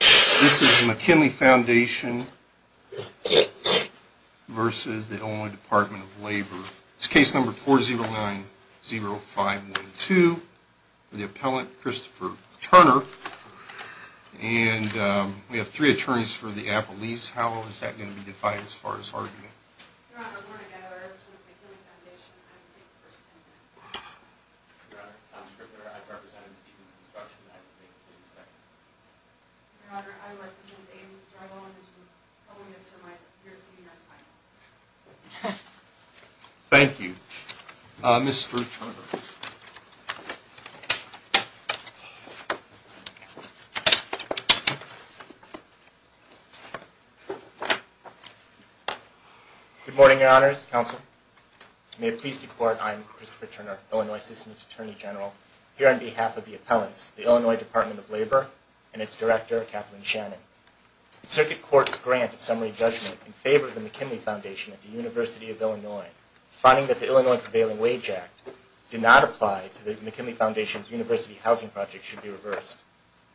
This is the McKinley Foundation versus the Illinois Department of Labor. It's case number 4090512 for the appellant, Christopher Turner, and we have three attorneys for the appellees. How is that going to be defined as far as argument? Your Honor, I represent the McKinley Foundation and I'm taking the first stand here. Your Honor, I'm Christopher Turner. I'm representing Stevens Construction and I'm taking the second. Your Honor, I represent Aiden Drive-On and I'm calling this from my superior title. Thank you. Mr. Turner. Good morning, Your Honors, Counsel. May it please the Court, I'm Christopher Turner, Illinois System's Attorney General, here on behalf of the appellants, the Illinois Department of Labor, and its director, Katherine Shannon. The Circuit Court's grant of summary judgment in favor of the McKinley Foundation at the University of Illinois, finding that the Illinois Prevailing Wage Act did not apply to the McKinley Foundation's university housing project should be reversed.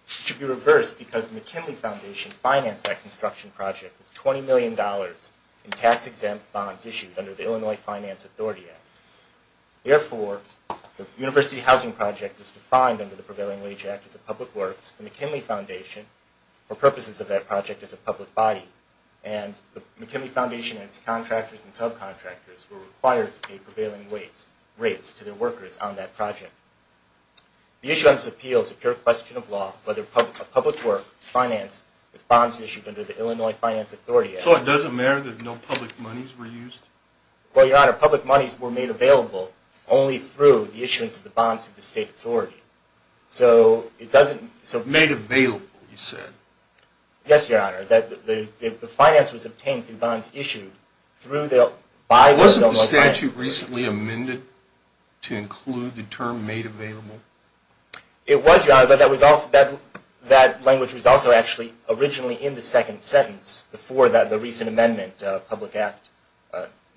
It should be reversed because the McKinley Foundation financed that construction project with $20 million in tax-exempt bonds issued under the Illinois Finance Authority Act. Therefore, the university housing project is defined under the Prevailing Wage Act as a public works, the McKinley Foundation, for purposes of that project, is a public body, and the McKinley Foundation and its contractors and subcontractors were required to pay prevailing rates to their workers on that project. The issue on this appeal is a pure question of law, a public work financed with bonds issued under the Illinois Finance Authority Act. So it doesn't matter that no public monies were used? Well, Your Honor, public monies were made available only through the issuance of the bonds of the state authority. So it doesn't... Made available, you said? Yes, Your Honor. The finance was obtained through bonds issued through the... Wasn't the statute recently amended to include the term made available? It was, Your Honor, but that language was also actually originally in the second sentence before the recent amendment, Public Act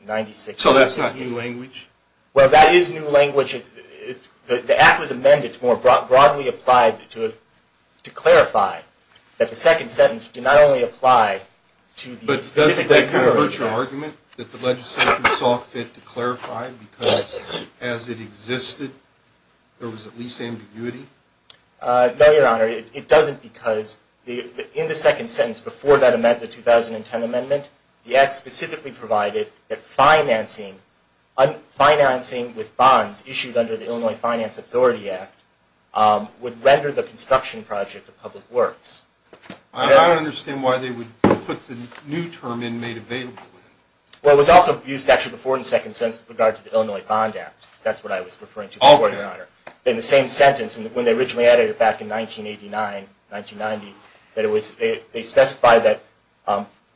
96... So that's not new language? Well, that is new language. The act was amended to more broadly apply to clarify that the second sentence did not only apply to the... But doesn't that kind of hurt your argument that the legislature saw fit to clarify because as it existed, there was at least ambiguity? No, Your Honor, it doesn't because in the second sentence before that amendment, the 2010 amendment, the act specifically provided that financing with bonds issued under the Illinois Finance Authority Act would render the construction project a public works. I don't understand why they would put the new term in made available. Well, it was also used actually before in the second sentence with regard to the Illinois Bond Act. That's what I was referring to before, Your Honor. In the same sentence, when they originally added it back in 1989, 1990, that it was... They specified that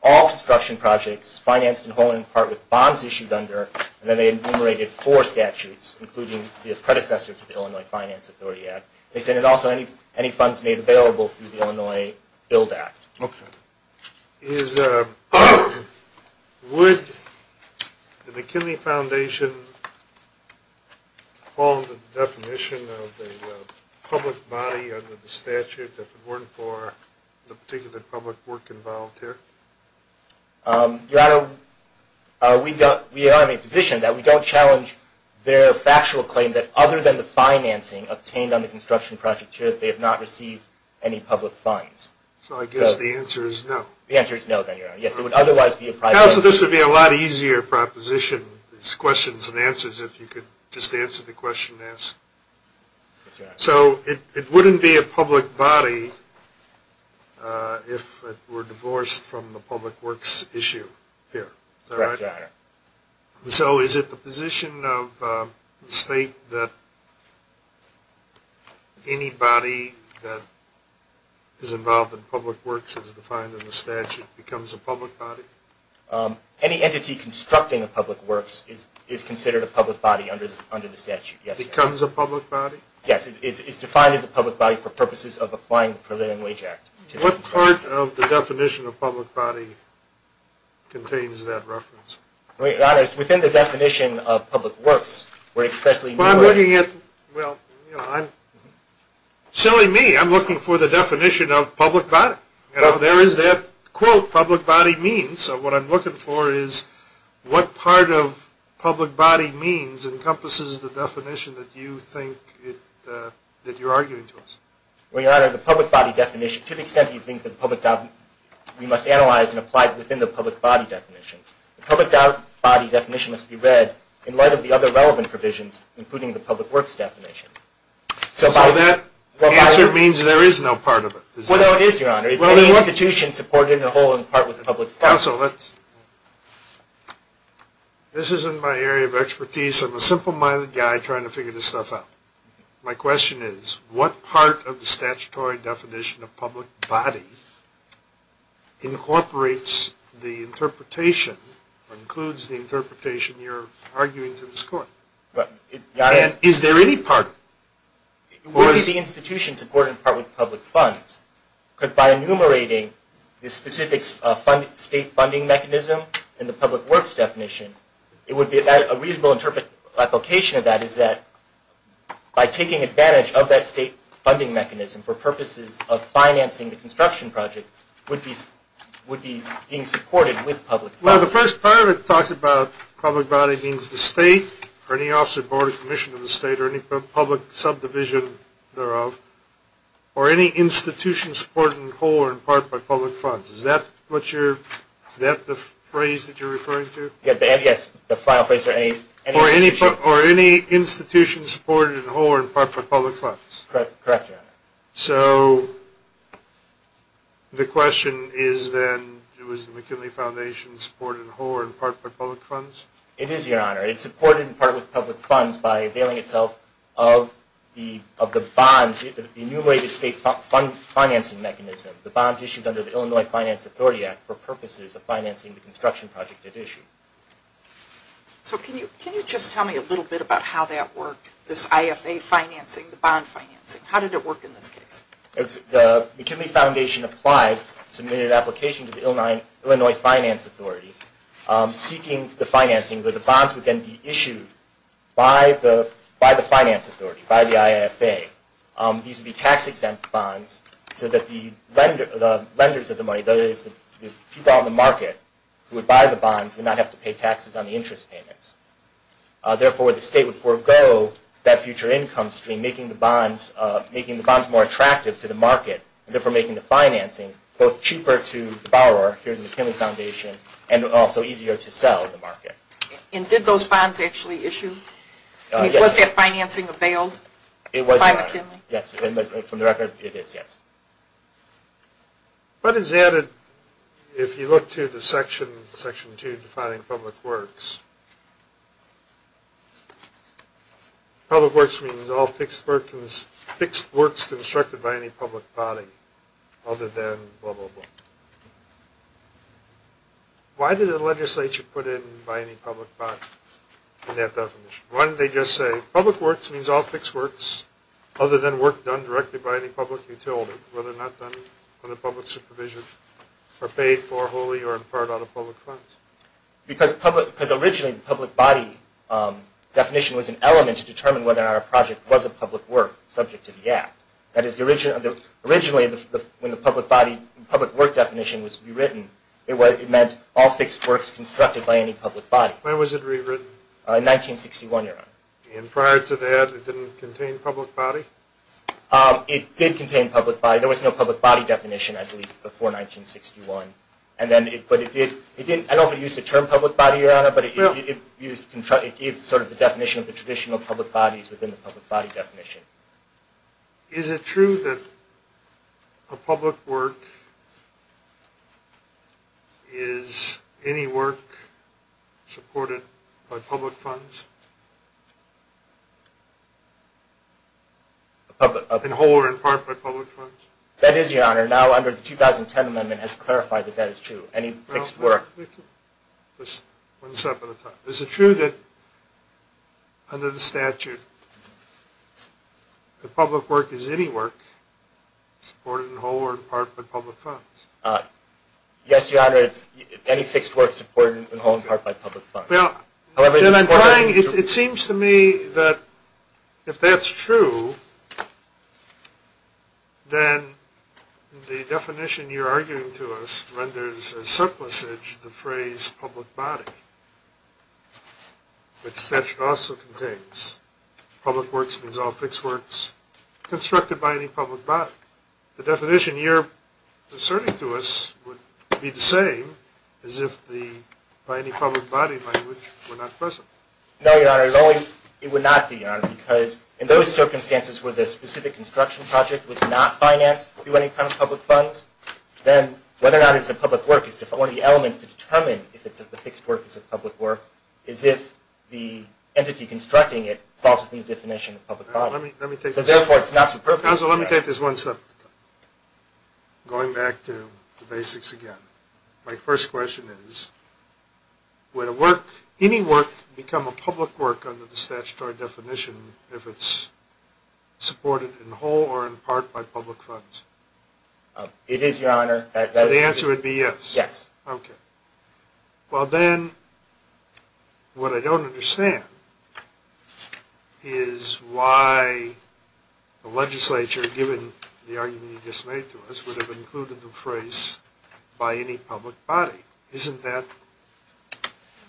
all construction projects financed in whole and in part with bonds issued under... And then they enumerated four statutes, including the predecessor to the Illinois Finance Authority Act. They said, and also any funds made available through the Illinois Build Act. Okay. Is... Would the McKinley Foundation fall into the definition of a public body under the statute that would work for the particular public work involved here? Your Honor, we are in a position that we don't challenge their factual claim that other than the financing obtained on the construction project they have not received any public funds. So I guess the answer is no. The answer is no, then, Your Honor. Yes, it would otherwise be a private... Also, this would be a lot easier proposition. It's questions and answers if you could just answer the question and ask. So it wouldn't be a public body if it were divorced from the public works issue here. Correct, Your Honor. So is it the position of the state that anybody that is involved in public works as defined in the statute becomes a public body? Any entity constructing a public works is considered a public body under the statute, yes. Becomes a public body? Yes, it's defined as a public body for purposes of applying the Preliminary Wage Act. What part of the definition of public body contains that reference? Your Honor, it's within the definition of public works where expressly... Well, you know, I'm... Silly me. I'm looking for the definition of public body. You know, there is that quote, public body means. So what I'm looking for is what part of public body means encompasses the definition that you think it... that you're arguing to us? Well, Your Honor, the public body definition, to the extent that you think that public... we must analyze and apply within the public body definition. The public body definition must be read in light of the relevant provisions, including the public works definition. So by... So that answer means there is no part of it? Well, no, it is, Your Honor. It's any institution supported in the whole in part with the public... Counsel, let's... This is in my area of expertise. I'm a simple-minded guy trying to figure this stuff out. My question is, what part of the statutory definition of public body incorporates the interpretation or includes the interpretation you're arguing to us? Your Honor... And is there any part? It would be the institution supported in part with public funds, because by enumerating the specifics of state funding mechanism and the public works definition, it would be a reasonable interpretation of that is that by taking advantage of that state funding mechanism for purposes of financing the construction project would be being supported with public funds. Well, the first part of it talks about public body means the state or any office or board of commission of the state or any public subdivision thereof, or any institution supported in whole or in part by public funds. Is that what you're... Is that the phrase that you're referring to? Yes, the final phrase... Or any institution supported in whole or in part by public funds? It is, Your Honor. It's supported in part with public funds by availing itself of the bonds, the enumerated state financing mechanism, the bonds issued under the Illinois Finance Authority Act for purposes of financing the construction project at issue. So can you just tell me a little bit about how that worked, this IFA financing, the bond financing? How did it work in this case? The McKinley Foundation applied, submitted an application to the Illinois Finance Authority seeking the financing, but the bonds would then be issued by the finance authority, by the IFA. These would be tax-exempt bonds so that the lenders of the money, that is, the people on the market who would buy the bonds would not have to pay taxes on the interest payments. Therefore, the state would forego that future income stream, making the bonds more attractive to the market, and therefore making the financing both cheaper to borrow here at the McKinley Foundation and also easier to sell in the market. And did those bonds actually issue? Was that financing availed? It was, Your Honor. By McKinley? Yes, from the record, it is, yes. What is added if you look to the Section 2 defining public works? Public works means all fixed works constructed by any public body other than blah, blah, blah. Why did the legislature put in by any public body in that definition? Why didn't they just say, public works means all fixed works other than work done directly by any public utility, whether not done under public supervision or paid for wholly or in part out of public funds? Because originally the public body definition was an element to determine whether our project was a public work subject to the Act. That is, originally when the public body, public work definition was rewritten, it meant all fixed works constructed by any public body. When was it rewritten? In 1961, Your Honor. And prior to that, it didn't contain public body? It did contain public body. There was no public body definition, I believe, before 1961. And then, but it did, it didn't, I don't know if it used the term public body, Your Honor, but it used, it gives sort of the definition of the traditional public bodies within the state. Public work is any work supported by public funds? In whole or in part by public funds? That is, Your Honor, now under the 2010 amendment has clarified that that is true, any fixed work. One step at a time. Is it true that under the statute, that public work is any work supported in whole or in part by public funds? Yes, Your Honor, it's any fixed work supported in whole or in part by public funds. Well, then I'm trying, it seems to me that if that's true, then the definition you're arguing to us renders a surplusage, the phrase public body, which the statute also contains. Public works means all fixed works constructed by any public body. The definition you're asserting to us would be the same as if the, by any public body language were not present. No, Your Honor, it only, it would not be, Your Honor, because in those circumstances where the specific construction project was not financed through any kind of public funds, then whether or not it's a public work is one of the elements to determine if it's a fixed work is a public work, is if the entity constructing it falls within the definition of a public body. So therefore it's not a perfect project. Counselor, let me take this one step, going back to the basics again. My first question is, would a work, any work, become a public work under the statutory definition if it's supported in whole or in part by public funds? It is, Your Honor. So the answer would be yes? Yes. Okay. Well then, what I don't understand is why the legislature, given the argument you just made to us, would have included the phrase by any public body. Isn't that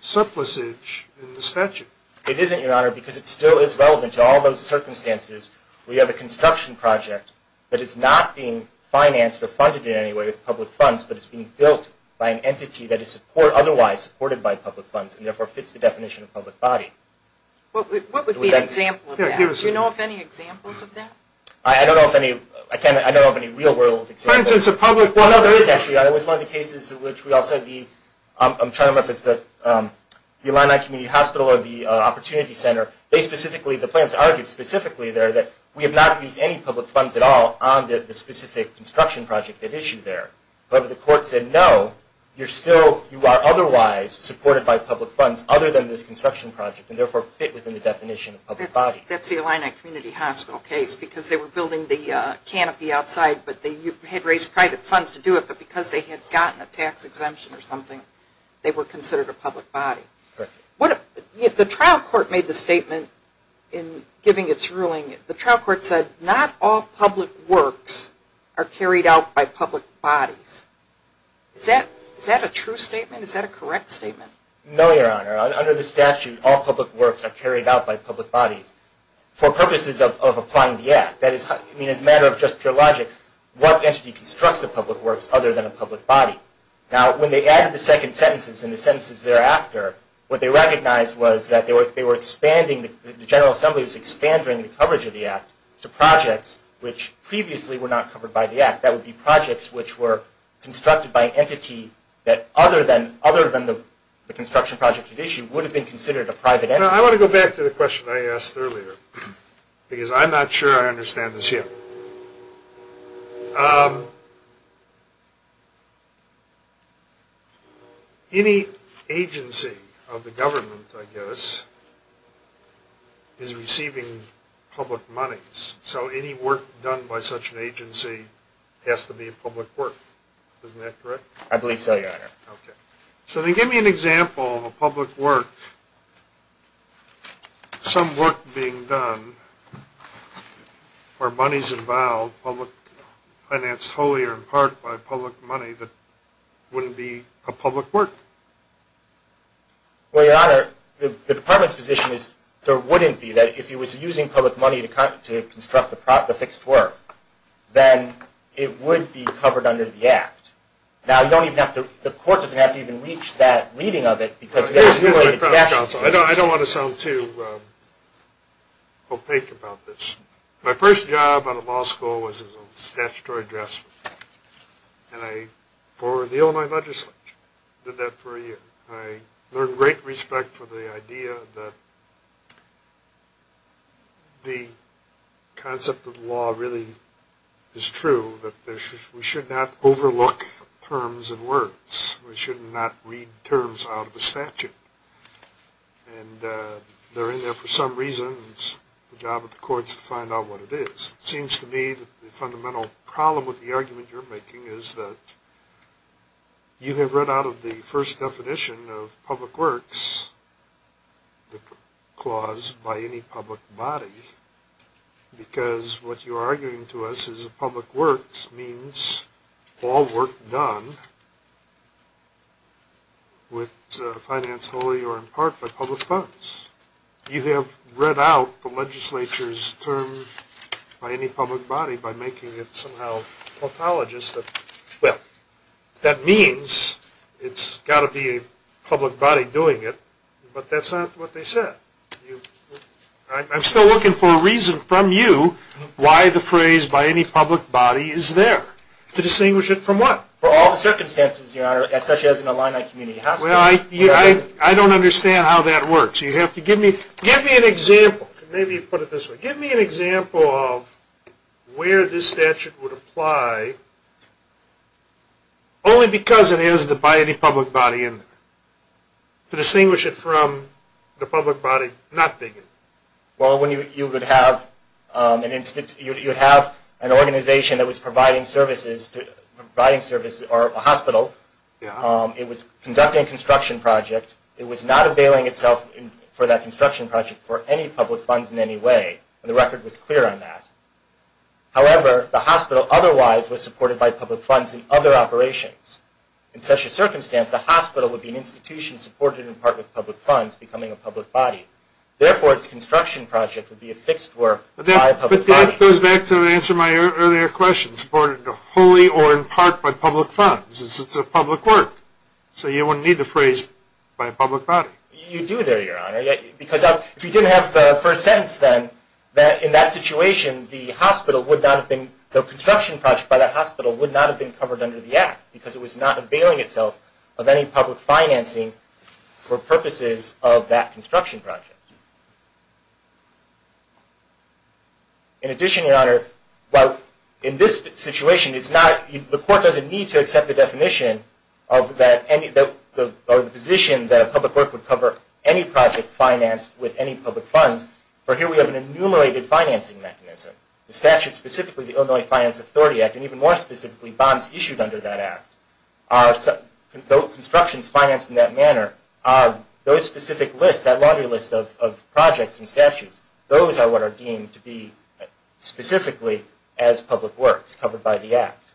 surplusage in the statute? It isn't, Your Honor, because it still is relevant to all those circumstances. We have a construction project that is not being financed or funded in any way with public funds, but it's being built by an entity that is otherwise supported by public funds and therefore fits the definition of public body. What would be an example of that? Do you know of any examples of that? I don't know of any real world examples. For instance, a public... Well, no, there is actually. It was one of the cases in which we all said the... I'm trying to remember if it's the Illini Community Hospital or the Opportunity Center. They specifically, the plans argued specifically there that we have not used any public funds at all on the specific construction project at issue there. But the court said no, you're still, you are otherwise supported by public funds other than this construction project and therefore fit within the definition of public body. That's the Illini Community Hospital case because they were building the canopy outside, but they had raised private funds to do it, but because they had gotten a tax exemption or something, they were considered a public body. Correct. What if the trial court made the statement in giving its ruling, the trial court said not all public works are carried out by public bodies. Is that a true statement? Is that a correct statement? No, Your Honor. Under the statute, all public works are carried out by public bodies for purposes of applying the act. That is, I mean, as a matter of just pure logic, what entity constructs a public works other than a public body? Now, when they added the second sentences and the sentences thereafter, what they recognized was that they were expanding, the General Assembly was expanding the coverage of the act to projects which previously were not covered by the act. That would be projects which were constructed by an entity that other than the construction project at issue would have been considered a private entity. I want to go back to the question I asked earlier because I'm not sure I understand this yet. Um, any agency of the government, I guess, is receiving public monies. So any work done by such an agency has to be a public work. Isn't that correct? I believe so, Your Honor. Okay. So then give me an example of a public work, um, some work being done where money's involved, public, financed wholly or in part by public money that wouldn't be a public work. Well, Your Honor, the Department's position is there wouldn't be, that if it was using public money to construct the fixed work, then it would be covered under the act. Now, you don't even have to, the court doesn't have to even reach that reading of it because I don't want to sound too, um, opaque about this. My first job out of law school was as a statutory draftsman. And I forwarded the Illinois legislature. Did that for a year. I learned great respect for the idea that the concept of law really is true, that we should not overlook terms and words. We should not read terms out of a statute. And, uh, they're in there for some reason. It's the job of the courts to find out what it is. It seems to me that the fundamental problem with the argument you're making is that you have run out of the first definition of public works, the clause, by any public body. Because what you're arguing to us is a public works means all work done with, uh, finance wholly or in part by public funds. You have read out the legislature's term by any public body by making it somehow a pathologist that, well, that means it's got to be a public body doing it. But that's not what they said. I'm still looking for a reason from you why the phrase by any public body is there. To distinguish it from what? For all the circumstances, your honor, such as an Illini community hospital. Well, I don't understand how that works. You have to give me, give me an example. Maybe you put it this way. Give me an example of where this statute would apply only because it is the by any public body in there. To distinguish it from the public body not being in there. Well, when you would have an institute, you would have an organization that was providing services to, providing services or a hospital. It was conducting a construction project. It was not availing itself for that construction project for any public funds in any way. And the record was clear on that. However, the hospital otherwise was supported by public funds in other operations. In such a circumstance, the hospital would be an institution supported in part with public funds becoming a public body. Therefore, its construction project would be a fixed work by a public body. That goes back to answer my earlier question. Supported wholly or in part by public funds. It's a public work. So you wouldn't need the phrase by a public body. You do there, your honor. Because if you didn't have the first sentence then, that in that situation, the hospital would not have been, the construction project by that hospital would not have been covered under the act because it was not availing itself of any public financing for purposes of that construction project. In addition, your honor, well, in this situation, it's not, the court doesn't need to accept the definition of that, or the position that a public work would cover any project financed with any public funds. For here, we have an enumerated financing mechanism. The statute, specifically the Illinois Finance Authority Act, and even more specifically bonds issued under that act, are, though construction is financed in that manner, are those specific lists, that laundry list of projects and statutes, those are what are deemed to be specifically as public works covered by the act.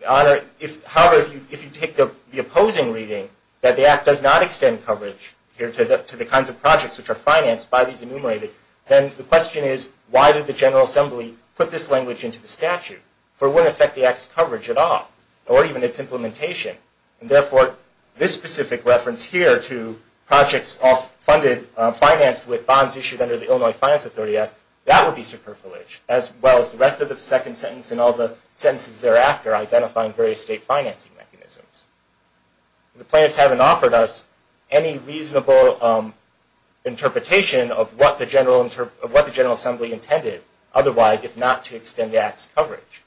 Your honor, if, however, if you take the opposing reading, that the act does not extend coverage here to the kinds of projects which are financed by these enumerated, then the question is, why did the General Assembly put this language into the statute? For what effect the act's coverage at all? Or even its implementation? And therefore, this specific reference here to projects all funded, financed with bonds issued under the Illinois Finance Authority Act, that would be superfluous, as well as the rest of the second sentence and all the sentences thereafter, identifying various state financing mechanisms. The plaintiffs haven't offered us any reasonable interpretation of what the General Assembly intended, otherwise, if not to extend the act's coverage.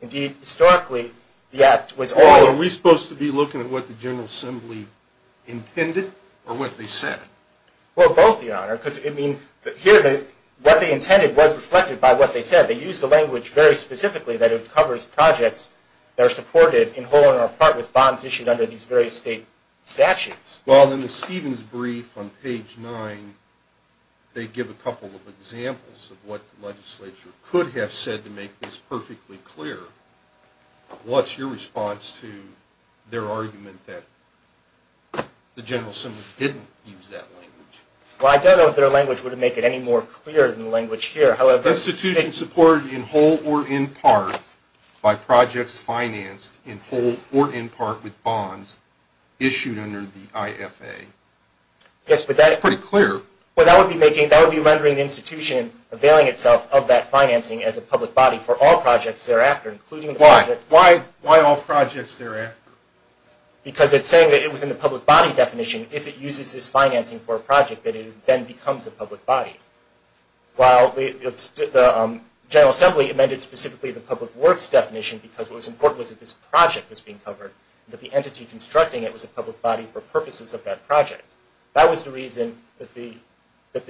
Indeed, historically, the act was all... Are we supposed to be looking at what the General Assembly intended, or what they said? Well, both, your honor. Because, I mean, here, what they intended was reflected by what they said. They used a language very specifically that it covers projects that are supported in whole or in part with bonds issued under these various state statutes. Well, in the Stevens brief on page 9, they give a couple of examples of what the legislature could have said to make this perfectly clear. What's your response to their argument that the General Assembly didn't use that language? Well, I don't know if their language would make it any more clear than the language here, however... Institution supported in whole or in part by projects financed in whole or in part with bonds issued under the IFA. Yes, but that... It's pretty clear. Well, that would be making... Availing itself of that financing as a public body for all projects thereafter, including... Why? Why all projects thereafter? Because it's saying that within the public body definition, if it uses this financing for a project, that it then becomes a public body. While the General Assembly amended specifically the public works definition, because what was important was that this project was being covered, that the entity constructing it was a public body for purposes of that project. That was the reason that the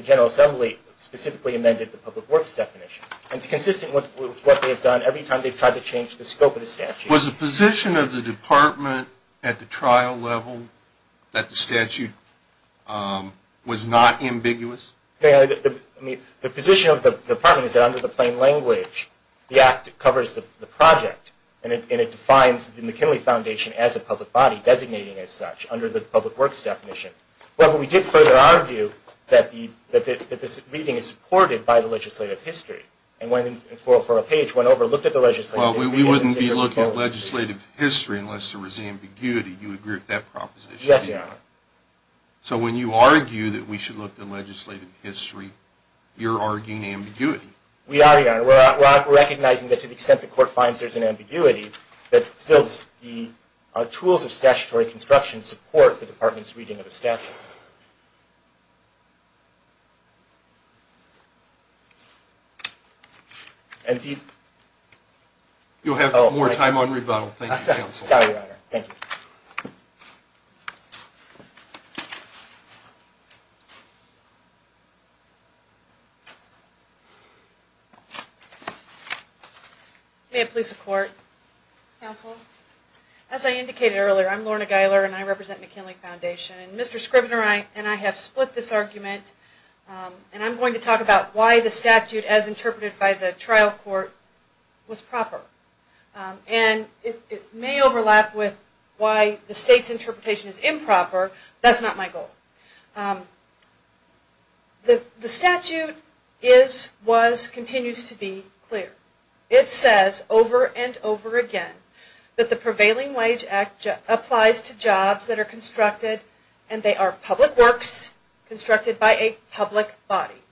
General Assembly specifically amended the public works definition, and it's consistent with what they've done every time they've tried to change the scope of the statute. Was the position of the department at the trial level that the statute was not ambiguous? The position of the department is that under the plain language, the act covers the project and it defines the McKinley Foundation as a public body designating as such under the public works definition. Well, but we did further argue that this meeting is supported by the legislative history, and when, for a page, went over and looked at the legislative history... Well, we wouldn't be looking at legislative history unless there was ambiguity. Do you agree with that proposition? Yes, Your Honor. So when you argue that we should look at legislative history, you're arguing ambiguity? We are, Your Honor. We're recognizing that to the extent the court finds there's an ambiguity, that still the tools of statutory construction support the department's reading of the statute. You'll have more time on rebuttal. Thank you, Counsel. Sorry, Your Honor. Thank you. May it please the Court? Counsel? As I indicated earlier, I'm Lorna Geiler, and I represent McKinley Foundation. And Mr. Scrivener and I have split this argument, and I'm going to talk about why the statute, as interpreted by the trial court, was proper. And it may overlap with why the state's interpretation is improper. That's not my goal. The statute is, was, continues to be clear. It says over and over again that the Prevailing Wage Act applies to jobs that are constructed, and they are public works constructed by a public body.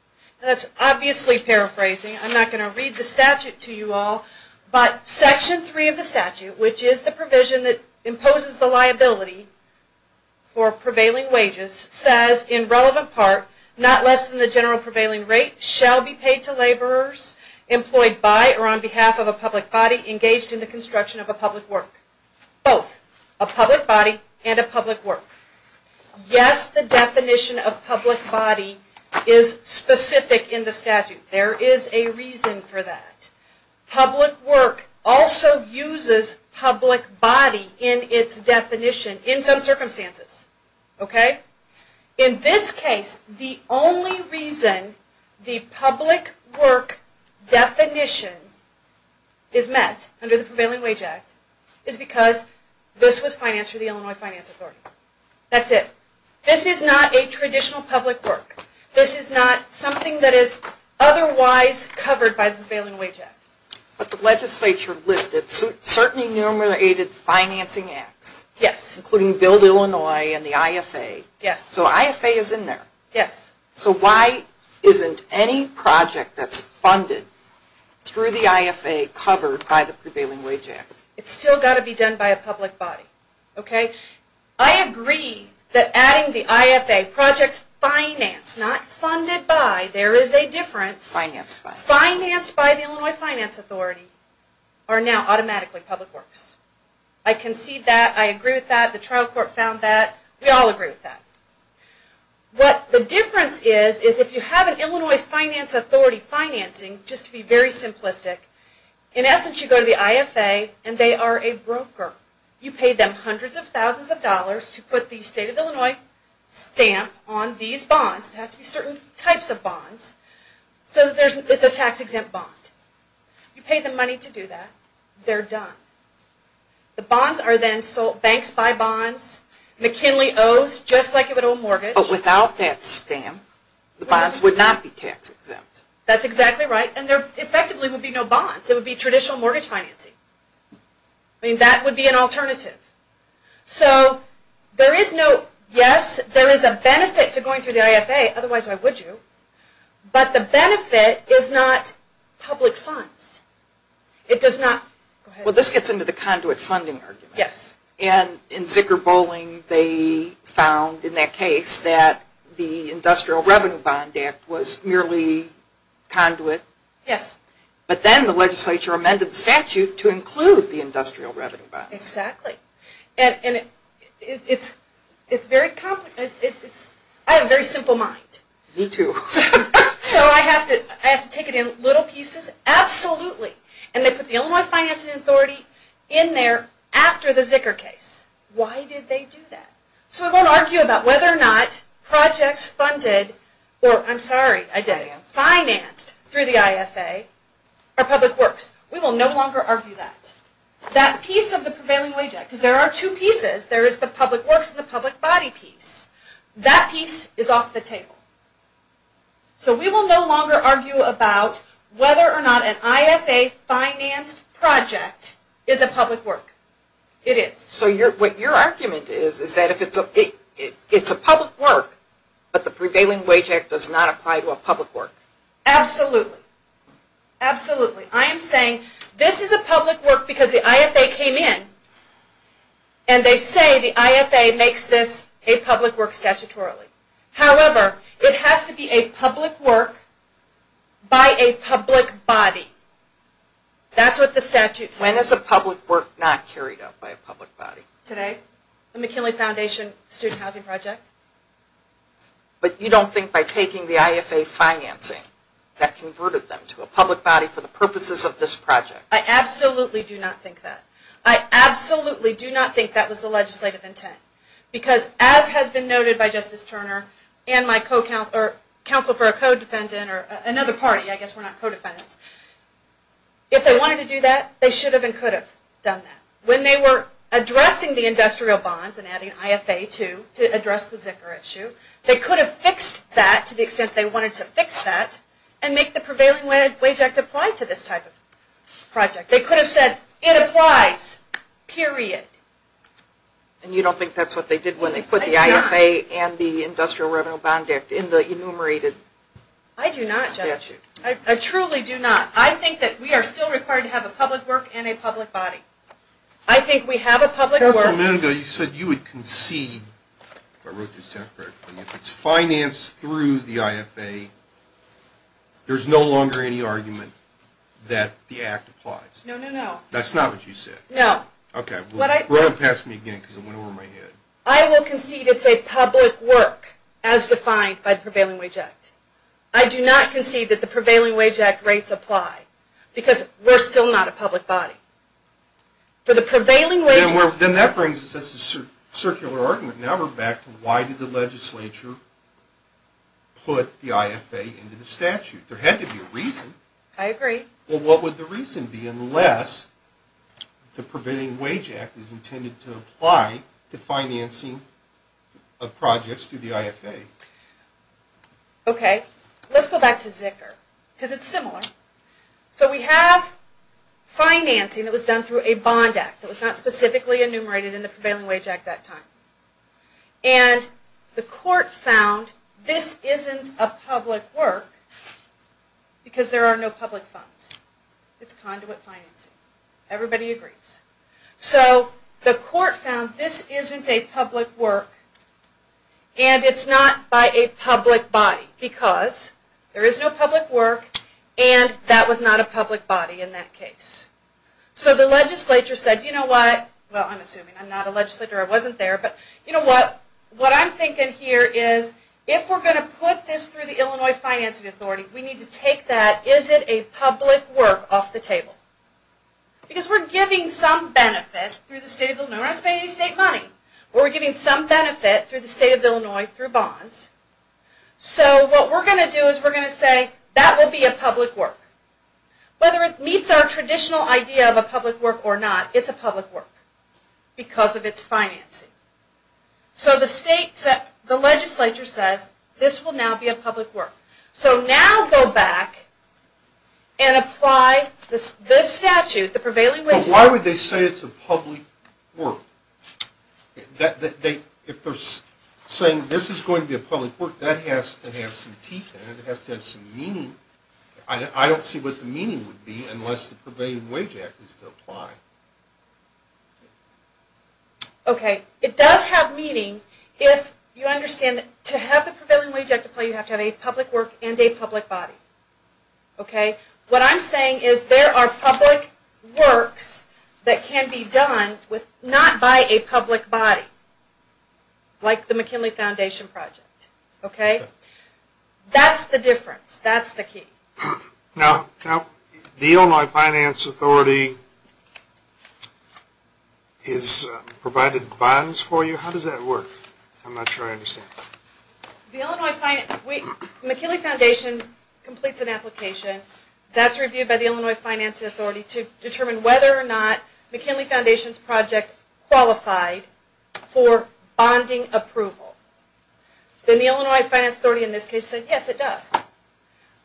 That's obviously paraphrasing. I'm not going to read the statute to you all, but Section 3 of the statute, which is the provision that imposes the liability for prevailing wages, says, in relevant part, not less than the general prevailing rate shall be paid to laborers employed by or on behalf of a public body engaged in the construction of a public work. Both a public body and a public work. Yes, the definition of public body is specific in the statute. There is a reason for that. Public work also uses public body in its definition in some circumstances. Okay? In this case, the only reason the public work definition is met under the Prevailing Wage Act is because this was financed through the Illinois Finance Authority. That's it. This is not a traditional public work. This is not something that is otherwise covered by the Prevailing Wage Act. But the legislature listed, certainly numerated financing acts. Yes. Including Build Illinois and the IFA. Yes. So IFA is in there. Yes. So why isn't any project that's funded through the IFA covered by the Prevailing Wage Act? It's still got to be done by a public body. Okay? I agree that adding the IFA projects financed, not funded by, there is a difference. Financed by. Financed by the Illinois Finance Authority are now automatically public works. I concede that. I agree with that. The trial court found that. We all agree with that. What the difference is, is if you have an Illinois Finance Authority financing, just to be very simplistic, in essence you go to the IFA and they are a broker. You pay them hundreds of thousands of dollars to put the state of Illinois stamp on these bonds. It has to be certain types of bonds. So it's a tax exempt bond. You pay them money to do that. They're done. The bonds are then sold. Banks buy bonds. McKinley owes, just like a little mortgage. But without that stamp, the bonds would not be tax exempt. That's exactly right. And there effectively would be no bonds. It would be traditional mortgage financing. That would be an alternative. So there is no, yes, there is a benefit to going through the IFA. But the benefit is not public funds. It does not, go ahead. This gets into the conduit funding argument. Yes. And in Zicker bowling, they found in that case that the Industrial Revenue Bond Act was merely conduit. Yes. But then the legislature amended the statute to include the Industrial Revenue Bond. Exactly. And it's very, I have a very simple mind. Me too. So I have to take it in little pieces. Absolutely. And they put the Illinois Financing Authority in there after the Zicker case. Why did they do that? So we won't argue about whether or not projects funded, or I'm sorry, I did it, financed through the IFA are public works. We will no longer argue that. That piece of the prevailing wage act, because there are two pieces. There is the public works and the public body piece. That piece is off the table. So we will no longer argue about whether or not an IFA financed project is a public work. It is. So what your argument is, is that if it's a public work, but the prevailing wage act does not apply to a public work. Absolutely. Absolutely. I am saying this is a public work because the IFA came in and they say the IFA makes this a public work statutorily. However, it has to be a public work by a public body. That's what the statute says. When is a public work not carried out by a public body? Today. The McKinley Foundation Student Housing Project. But you don't think by taking the IFA financing that converted them to a public body for the purposes of this project? I absolutely do not think that. I absolutely do not think that was the legislative intent. Because as has been noted by Justice Turner and my counsel for a co-defendant or another party, I guess we're not co-defendants, if they wanted to do that, they should have and could have done that. When they were addressing the industrial bonds and adding IFA to address the Zika issue, they could have fixed that to the extent they wanted to fix that and make the prevailing wage act apply to this type of project. They could have said it applies. Period. And you don't think that's what they did when they put the IFA and the industrial revenue bond act in the enumerated statute? I do not. I truly do not. I think that we are still required to have a public work and a public body. I think we have a public work. Counselor Munoz, you said you would concede, if I wrote this down correctly, if it's financed through the IFA, there's no longer any argument that the act applies? No, no, no. That's not what you said? No. Okay. Run it past me again because it went over my head. I will concede it's a public work as defined by the prevailing wage act. I do not concede that the prevailing wage act rates apply because we're still not a public body. For the prevailing wage... Then that brings us to a circular argument. Now we're back to why did the legislature put the IFA into the statute? There had to be a reason. I agree. What would the reason be unless the prevailing wage act is intended to apply to financing of projects through the IFA? Okay. Let's go back to Zicker because it's similar. So we have financing that was done through a bond act that was not specifically enumerated in the prevailing wage act that time. And the court found this isn't a public work because there are no public funds. It's conduit financing. Everybody agrees. So the court found this isn't a public work and it's not by a public body because there is no public work and that was not a public body in that case. So the legislature said, you know what? Well, I'm assuming. I'm not a legislator. I wasn't there. But you know what? What I'm thinking here is if we're going to put this through the Illinois Financing Authority, we need to take that is it a public work off the table. Because we're giving some benefit through the state of Illinois. We're not paying any state money. But we're giving some benefit through the state of Illinois through bonds. So what we're going to do is we're going to say that will be a public work. Whether it meets our traditional idea of a public work or not, it's a public work because of its financing. So the legislature says this will now be a public work. So now go back and apply this statute, the Prevailing Wage Act. But why would they say it's a public work? If they're saying this is going to be a public work, that has to have some teeth in it. It has to have some meaning. I don't see what the meaning would be unless the Prevailing Wage Act is to apply. Okay. It does have meaning if you understand that to have the Prevailing Wage Act applied, you have to have a public work and a public body. Okay. What I'm saying is there are public works that can be done not by a public body. Like the McKinley Foundation Project. Okay. That's the difference. That's the key. Now, the Illinois Finance Authority has provided bonds for you. How does that work? I'm not sure I understand. The Illinois Finance, the McKinley Foundation completes an application. That's reviewed by the Illinois Finance Authority to determine whether or not McKinley Foundation's project qualified for bonding approval. Then the Illinois Finance Authority in this case said yes, it does.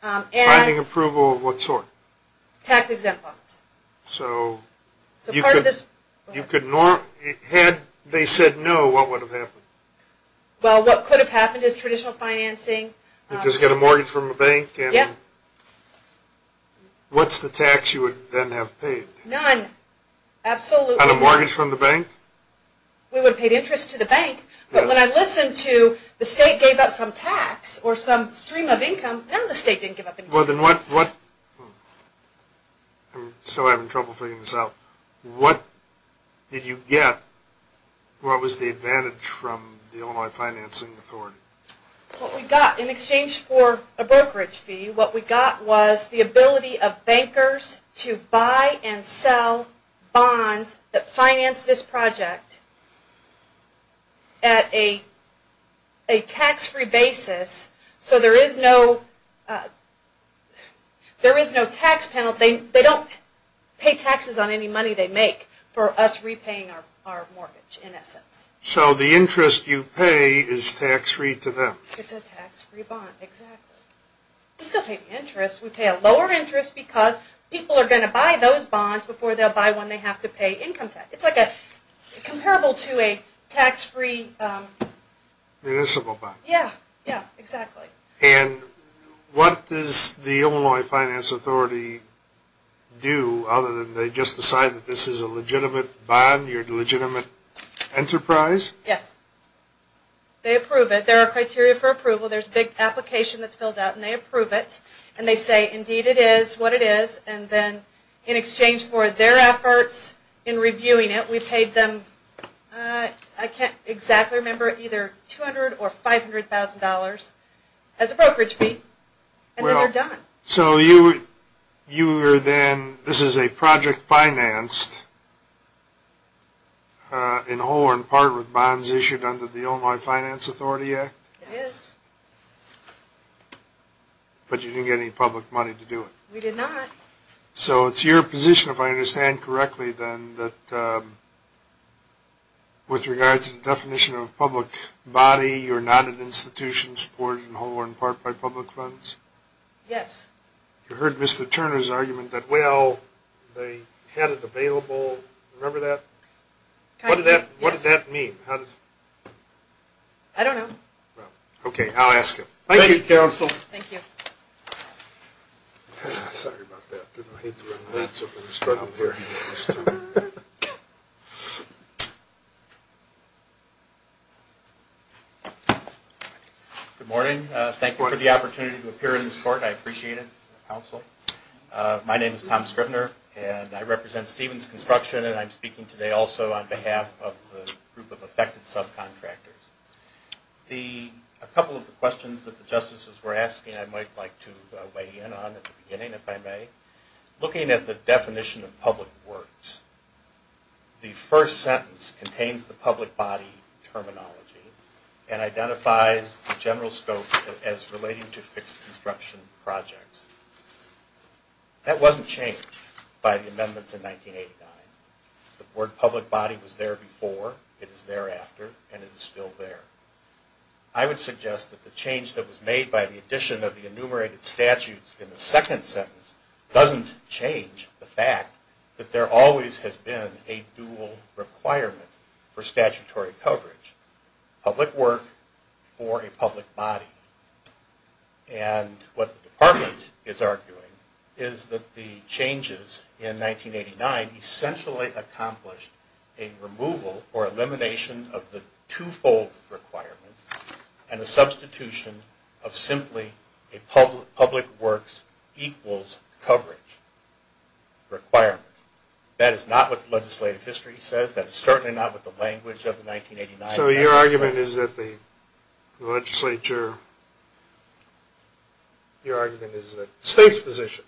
Finding approval of what sort? Tax-exempt bonds. So you could, had they said no, what would have happened? Well, what could have happened is traditional financing. You'd just get a mortgage from a bank and what's the tax you would then have paid? None. Absolutely. On a mortgage from the bank? We would have paid interest to the bank. But when I listened to the state gave up some tax or some stream of income, none of the state didn't give up any tax. Well, then what, I'm still having trouble figuring this out. What did you get? What was the advantage from the Illinois Financing Authority? What we got in exchange for a brokerage fee, what we got was the ability of bankers to buy and sell bonds that finance this project at a tax-free basis. So there is no, there is no tax penalty. They don't pay taxes on any money they make for us repaying our mortgage, in essence. So the interest you pay is tax-free to them? It's a tax-free bond, exactly. We still pay interest. We pay a lower interest because people are going to buy those bonds before they'll buy one they have to pay income tax. It's like a, comparable to a tax-free... Municipal bond. Yeah, yeah, exactly. And what does the Illinois Finance Authority do other than they just decide that this is a legitimate bond? You're a legitimate enterprise? Yes, they approve it. There are criteria for approval. There's a big application that's filled out and they approve it. And they say, indeed it is what it is. And then in exchange for their efforts in reviewing it, we paid them, I can't exactly remember, either $200,000 or $500,000 as a brokerage fee and then they're done. So you were then, this is a project financed in whole or in part with bonds issued under the Illinois Finance Authority Act? It is. But you didn't get any public money to do it? We did not. So it's your position, if I understand correctly then, that with regard to the definition of public body, you're not an institution supported in whole or in part by public funds? Yes. You heard Mr. Turner's argument that, well, they had it available. Remember that? What does that mean? I don't know. Okay, I'll ask him. Thank you, Counsel. Thank you. Sorry about that. Didn't hate to run late, so I'm going to start over here. Good morning. Thank you for the opportunity to appear in this court. I appreciate it, Counsel. My name is Tom Scrivener and I represent Stevens Construction and I'm speaking today also on behalf of the group of affected subcontractors. A couple of the questions that the Justices were asking, I might like to weigh in on at the beginning, if I may. Looking at the definition of public works, the first sentence contains the public body terminology and identifies the general scope as relating to fixed construction projects. That wasn't changed by the amendments in 1989. The word public body was there before, it is thereafter, and it is still there. I would suggest that the change that was made by the addition of the enumerated statutes in the second sentence doesn't change the fact that there always has been a dual requirement for statutory coverage. Public work for a public body. And what the Department is arguing is that the changes in 1989 essentially accomplished a removal or elimination of the two-fold requirement and the substitution of simply a public works equals coverage requirement. That is not what the legislative history says. That is certainly not what the language of the 1989 amendment says. So your argument is that the legislature, your argument is that the state's position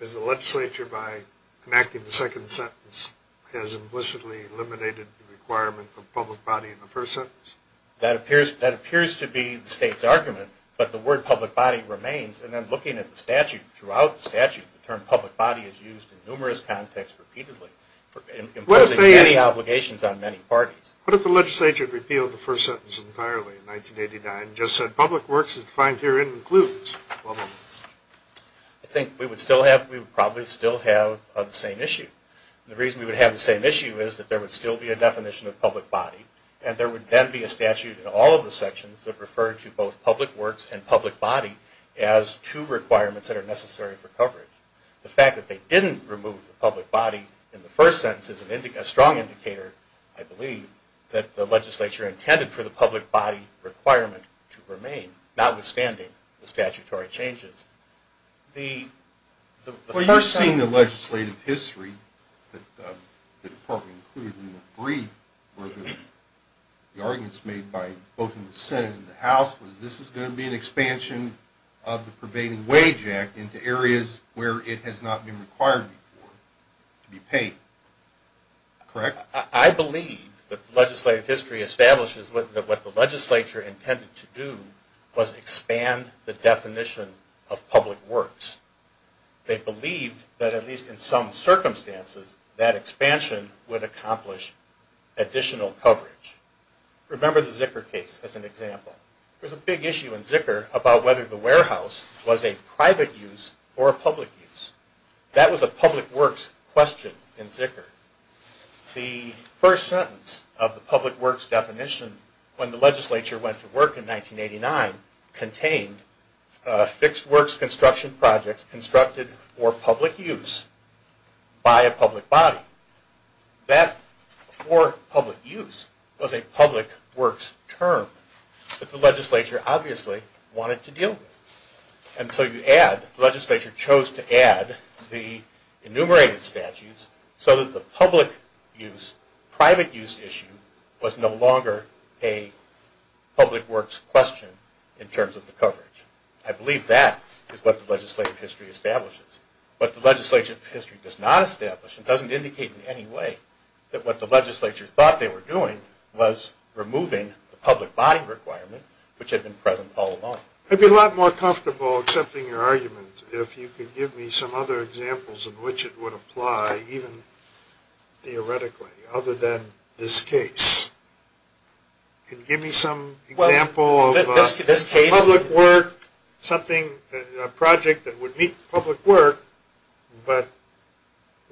is the legislature by enacting the second sentence has implicitly eliminated the requirement for public body in the first sentence? That appears to be the state's argument, but the word public body remains. And then looking at the statute, throughout the statute, the term public body is used in numerous contexts repeatedly for imposing many obligations on many parties. What if the legislature repealed the first sentence entirely in 1989 and just said public works as defined herein includes? I think we would still have, we would probably still have the same issue. The reason we would have the same issue is that there would still be a definition of public body and there would then be a statute in all of the sections that refer to both public works and public body as two requirements that are necessary for coverage. The fact that they didn't remove the public body in the first sentence is a strong indicator, I believe, that the legislature intended for the public body requirement to remain, notwithstanding the statutory changes. Well, you're seeing the legislative history that the department included in the brief where the arguments made by both in the Senate and the House was this is going to be an expansion of the Pervading Wage Act into areas where it has not been required before to be paid. Correct? I believe that the legislative history establishes that what the legislature intended to do was expand the definition of public works. They believed that at least in some circumstances that expansion would accomplish additional coverage. Remember the Zicker case as an example. There was a big issue in Zicker about whether the warehouse was a private use or a public use. That was a public works question in Zicker. The first sentence of the public works definition when the legislature went to work in 1989 contained fixed works construction projects constructed for public use by a public body. That for public use was a public works term. But the legislature obviously wanted to deal with it. And so you add, the legislature chose to add the enumerated statutes so that the public use, private use issue was no longer a public works question in terms of the coverage. I believe that is what the legislative history establishes. What the legislative history does not establish and doesn't indicate in any way that what the legislature thought they were doing was removing the public body requirement which had been present all along. It would be a lot more comfortable accepting your argument if you could give me some other examples in which it would apply even theoretically other than this case. Can you give me some example of public work, something, a project that would meet public work but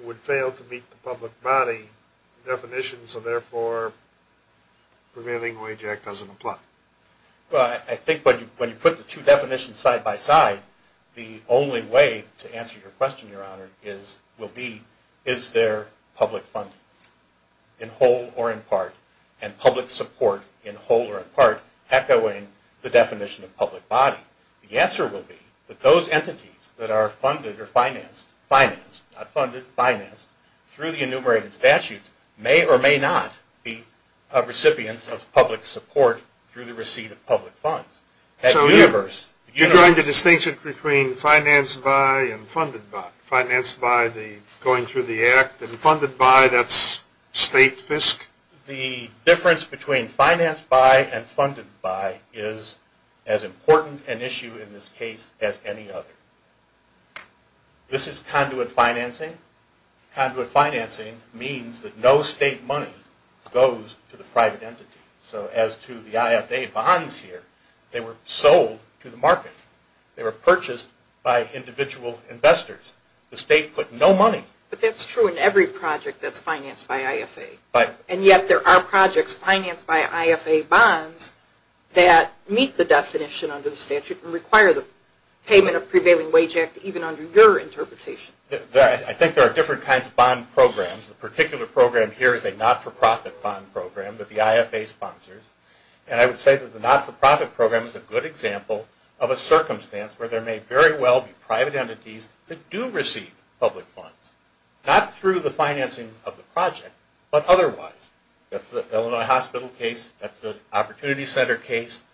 would fail to meet the public body. Definition so therefore prevailing wage act doesn't apply. Well I think when you put the two definitions side by side the only way to answer your question your honor is, will be, is there public funding in whole or in part and public support in whole or in part echoing the definition of public body. The answer will be that those entities that are funded or financed, not funded, financed through the enumerated statutes may or may not be recipients of public support through the receipt of public funds. So you're going to distinction between financed by and funded by. Financed by the going through the act and funded by that's state fisc. The difference between financed by and funded by is as important an issue in this case as any other. This is conduit financing. Conduit financing means that no state money goes to the private entity. So as to the IFA bonds here, they were sold to the market. They were purchased by individual investors. The state put no money. But that's true in every project that's financed by IFA. And yet there are projects financed by IFA bonds that meet the definition under the statute and require the payment of prevailing wage act even under your interpretation. I think there are different kinds of bond programs. The particular program here is a not-for-profit bond program that the IFA sponsors. And I would say that the not-for-profit program is a good example of a circumstance where there may very well be private entities that do receive public funds. Not through the financing of the project, but otherwise. That's the Illinois Hospital case. That's the Opportunity Center case.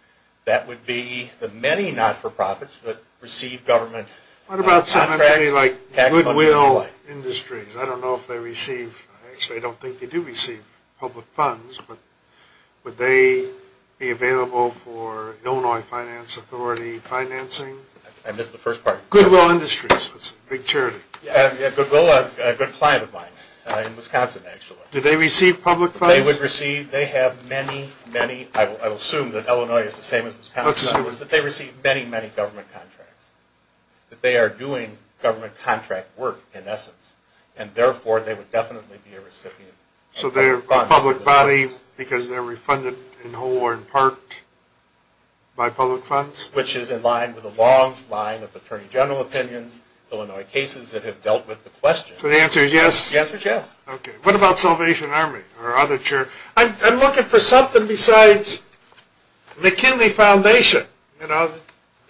That would be the many not-for-profits that receive government contracts. What about somebody like Goodwill Industries? I don't know if they receive... Actually, I don't think they do receive public funds. But would they be available for Illinois Finance Authority financing? I missed the first part. Goodwill Industries. That's a big charity. Yeah, Goodwill, a good client of mine in Wisconsin, actually. Do they receive public funds? They would receive... They have many, many... I will assume that Illinois is the same as Wisconsin. But they receive many, many government contracts. That they are doing government contract work, in essence. And therefore, they would definitely be a recipient. So they're a public body because they're refunded in whole or in part by public funds? Which is in line with a long line of attorney general opinions, Illinois cases that have dealt with the question. So the answer is yes? The answer is yes. Okay. What about Salvation Army or other charities? I'm looking for something besides McKinley Foundation. You know,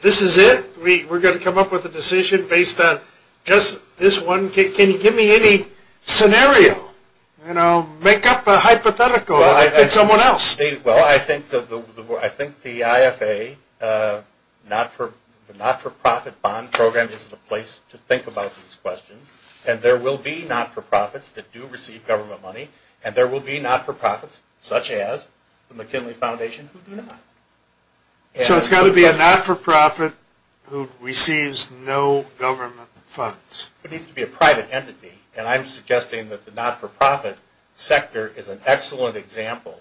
this is it? We're going to come up with a decision based on just this one? Can you give me any scenario? You know, make up a hypothetical for someone else. Well, I think the IFA, the not-for-profit bond program, is the place to think about these questions. And there will be not-for-profits that do receive government money. And there will be not-for-profits, such as the McKinley Foundation, who do not. So it's got to be a not-for-profit who receives no government funds? It needs to be a private entity. And I'm suggesting that the not-for-profit sector is an excellent example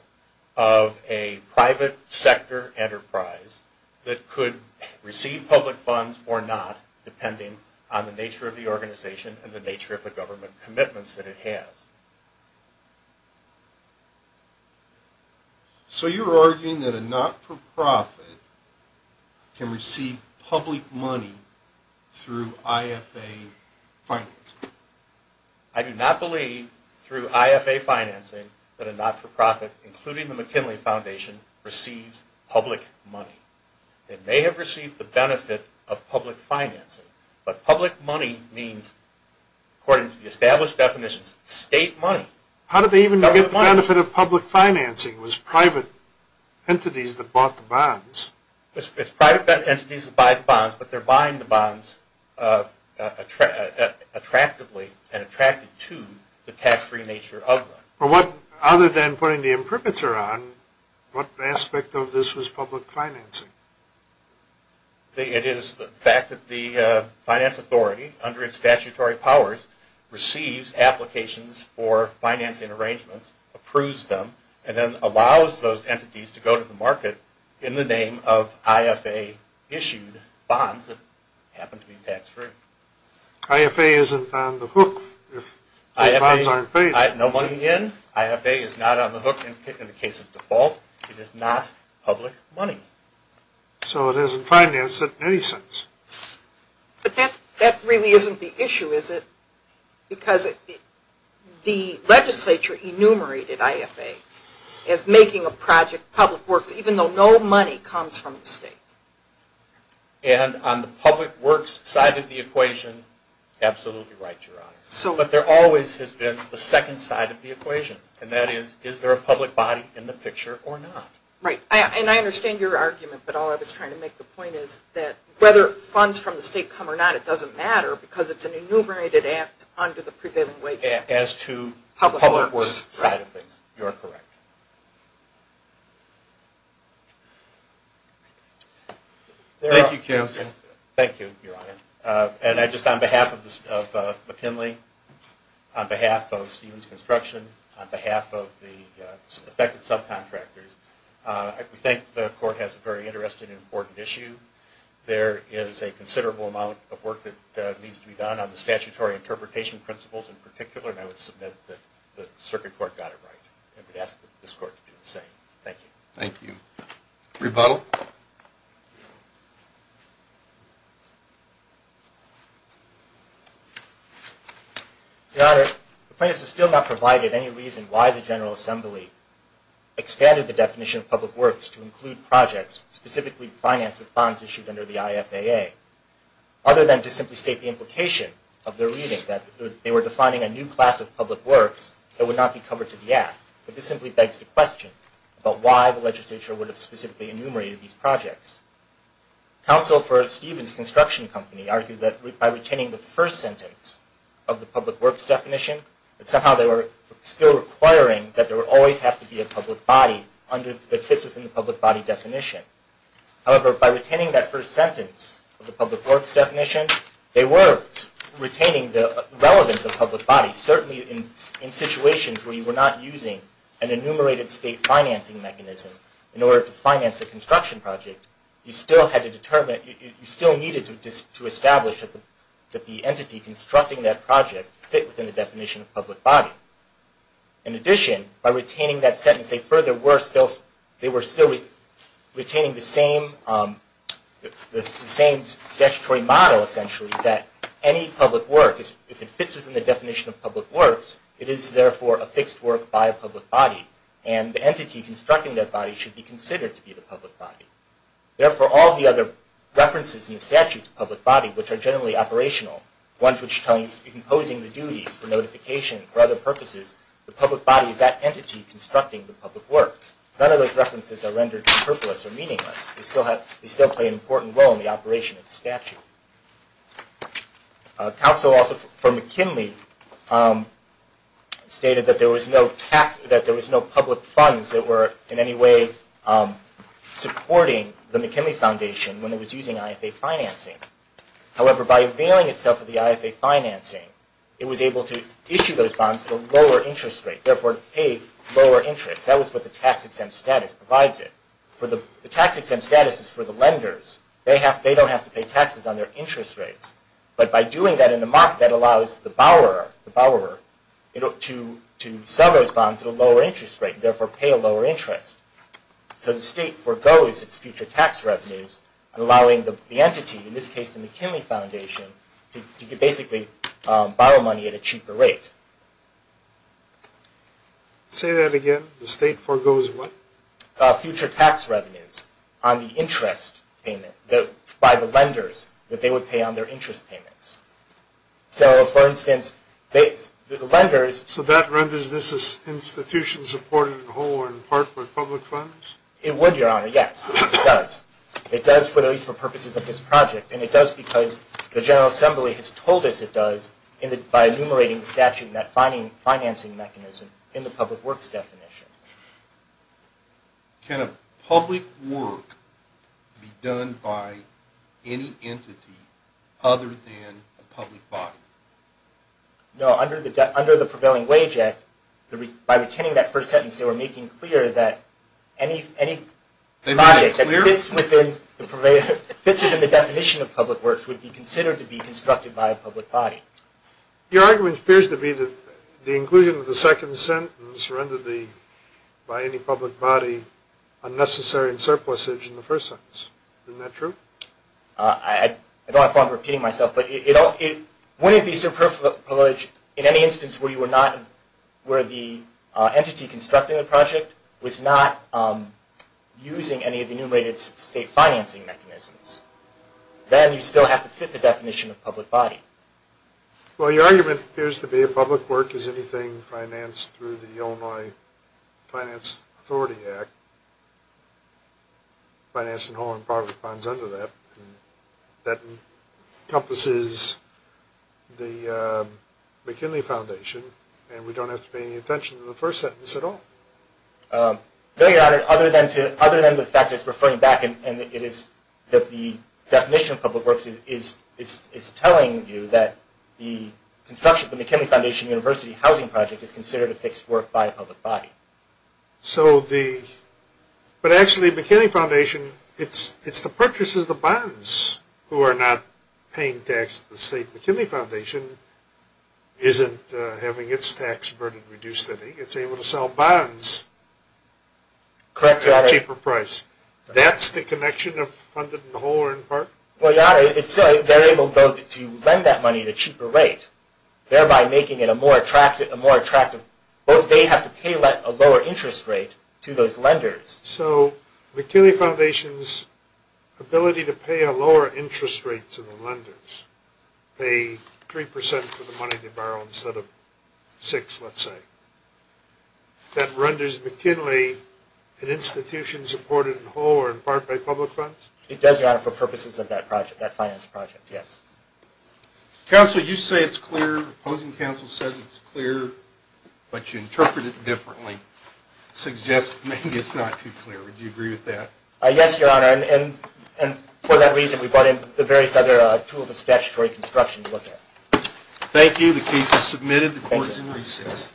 of a private sector enterprise that could receive public funds or not, depending on the nature of the organization and the nature of the government commitments that it has. So you're arguing that a not-for-profit can receive public money through IFA financing? I do not believe, through IFA financing, that a not-for-profit, including the McKinley Foundation, receives public money. They may have received the benefit of public financing, but public money means, according to the established definitions, state money. How did they even get the benefit of public financing? It was private entities that bought the bonds. It's private entities that buy the bonds, but they're buying the bonds attractively and attracted to the tax-free nature of them. Other than putting the imprimatur on, what aspect of this was public financing? It is the fact that the finance authority, under its statutory powers, receives applications for financing arrangements, approves them, and then allows those entities to go to the market in the name of IFA-issued bonds that happen to be tax-free. IFA isn't on the hook if those bonds aren't paid? No money in. IFA is not on the hook in the case of default. It is not public money. So it isn't financed in any sense. But that really isn't the issue, is it? Because the legislature enumerated IFA as making a project public works, even though no money comes from the state. And on the public works side of the equation, absolutely right, Your Honor. But there always has been the second side of the equation, and that is, is there a public body in the picture or not? Right. And I understand your argument, but all I was trying to make the point is that whether funds from the state come or not, it doesn't matter, because it's an enumerated act under the prevailing way. As to the public works side of things, you're correct. Thank you, Counsel. Thank you, Your Honor. And I just, on behalf of McKinley, on behalf of Stevens Construction, on behalf of the affected subcontractors, we think the court has a very interesting and important issue. There is a considerable amount of work that needs to be done on the statutory interpretation principles in particular, and I would submit that the circuit court got it right. I would ask this court to do the same. Thank you. Thank you. Rebuttal. Your Honor, the plaintiffs have still not provided any reason why the General Assembly expanded the definition of public works to include projects specifically financed with funds issued under the IFAA, other than to simply state the implication of their reading that they were defining a new class of public works that would not be covered to the act. But this simply begs the question about why the legislature would have specifically enumerated these projects. Counsel for Stevens Construction Company argued that by retaining the first sentence of the public works definition, that somehow they were still requiring that there would always have to be a public body that fits within the public body definition. However, by retaining that first sentence of the public works definition, they were retaining the relevance of public bodies. Certainly in situations where you were not using an enumerated state financing mechanism in order to finance a construction project, you still needed to establish that the entity constructing that project fit within the definition of public body. In addition, by retaining that sentence, they were still retaining the same statutory model, essentially, that any public work, if it fits within the definition of public works, it is therefore a fixed work by a public body. And the entity constructing that body should be considered to be the public body. Therefore, all the other references in the statute to public body, which are generally operational, ones which tell you, imposing the duties, the notification, for other purposes, the public body is that entity constructing the public work. None of those references are rendered purposeless or meaningless. They still play an important role in the operation of the statute. Counsel also for McKinley stated that there was no public funds that were in any way supporting the McKinley Foundation when it was using IFA financing. However, by availing itself of the IFA financing, it was able to issue those bonds at a lower interest rate, therefore pay lower interest. That was what the tax-exempt status provides it. The tax-exempt status is for the lenders. They don't have to pay taxes on their interest rates. But by doing that in the market, that allows the borrower to sell those bonds at a lower interest rate, therefore pay a lower interest. So the state forgoes its future tax revenues, allowing the entity, in this case the McKinley Foundation, to basically borrow money at a cheaper rate. Say that again. The state forgoes what? Future tax revenues on the interest payment by the lenders that they would pay on their interest payments. So for instance, the lenders... So that renders this institution supported in whole or in part by public funds? It would, Your Honor. Yes, it does. It does, at least for purposes of this project. And it does because the General Assembly has told us it does by enumerating the statute in that financing mechanism in the public works definition. Can a public work be done by any entity other than a public body? No, under the Prevailing Wage Act, by retaining that first sentence, they were making clear that any project that fits within the definition of public works would be considered to be constructed by a public body. Your argument appears to be that the inclusion of the second sentence rendered by any public body unnecessary surplusage in the first sentence. Isn't that true? I don't have a problem repeating myself, but wouldn't it be surplusage in any instance where the entity constructing a project was not using any of the enumerated state financing mechanisms? Then you still have to fit the definition of public body. Well, your argument appears to be a public work is anything financed through the Illinois Finance Authority Act. Finance in whole or in part responds under that. That encompasses the McKinley Foundation and we don't have to pay any attention to the first sentence at all. Very honored, other than the fact that it's referring back and it is that the definition of public works is telling you that the construction of the McKinley Foundation University housing project is considered a fixed work by a public body. So the, but actually McKinley Foundation, it's the purchases, the bonds who are not paying tax to the state McKinley Foundation isn't having its tax burden reduced. I think it's able to sell bonds at a cheaper price. That's the connection of funded in whole or in part? Well, your honor, they're able both to lend that money at a cheaper rate, thereby making a more attractive, both they have to pay a lower interest rate to those lenders. So McKinley Foundation's ability to pay a lower interest rate to the lenders, pay 3% for the money they borrow instead of 6%, let's say, that renders McKinley an institution supported in whole or in part by public funds? It does, your honor, for purposes of that project, that finance project, yes. Counsel, you say it's clear, opposing counsel says it's clear, but you interpret it differently. Suggests maybe it's not too clear, would you agree with that? Yes, your honor, and for that reason we brought in the various other tools of statutory construction to look at. Thank you, the case is submitted, the court is in recess.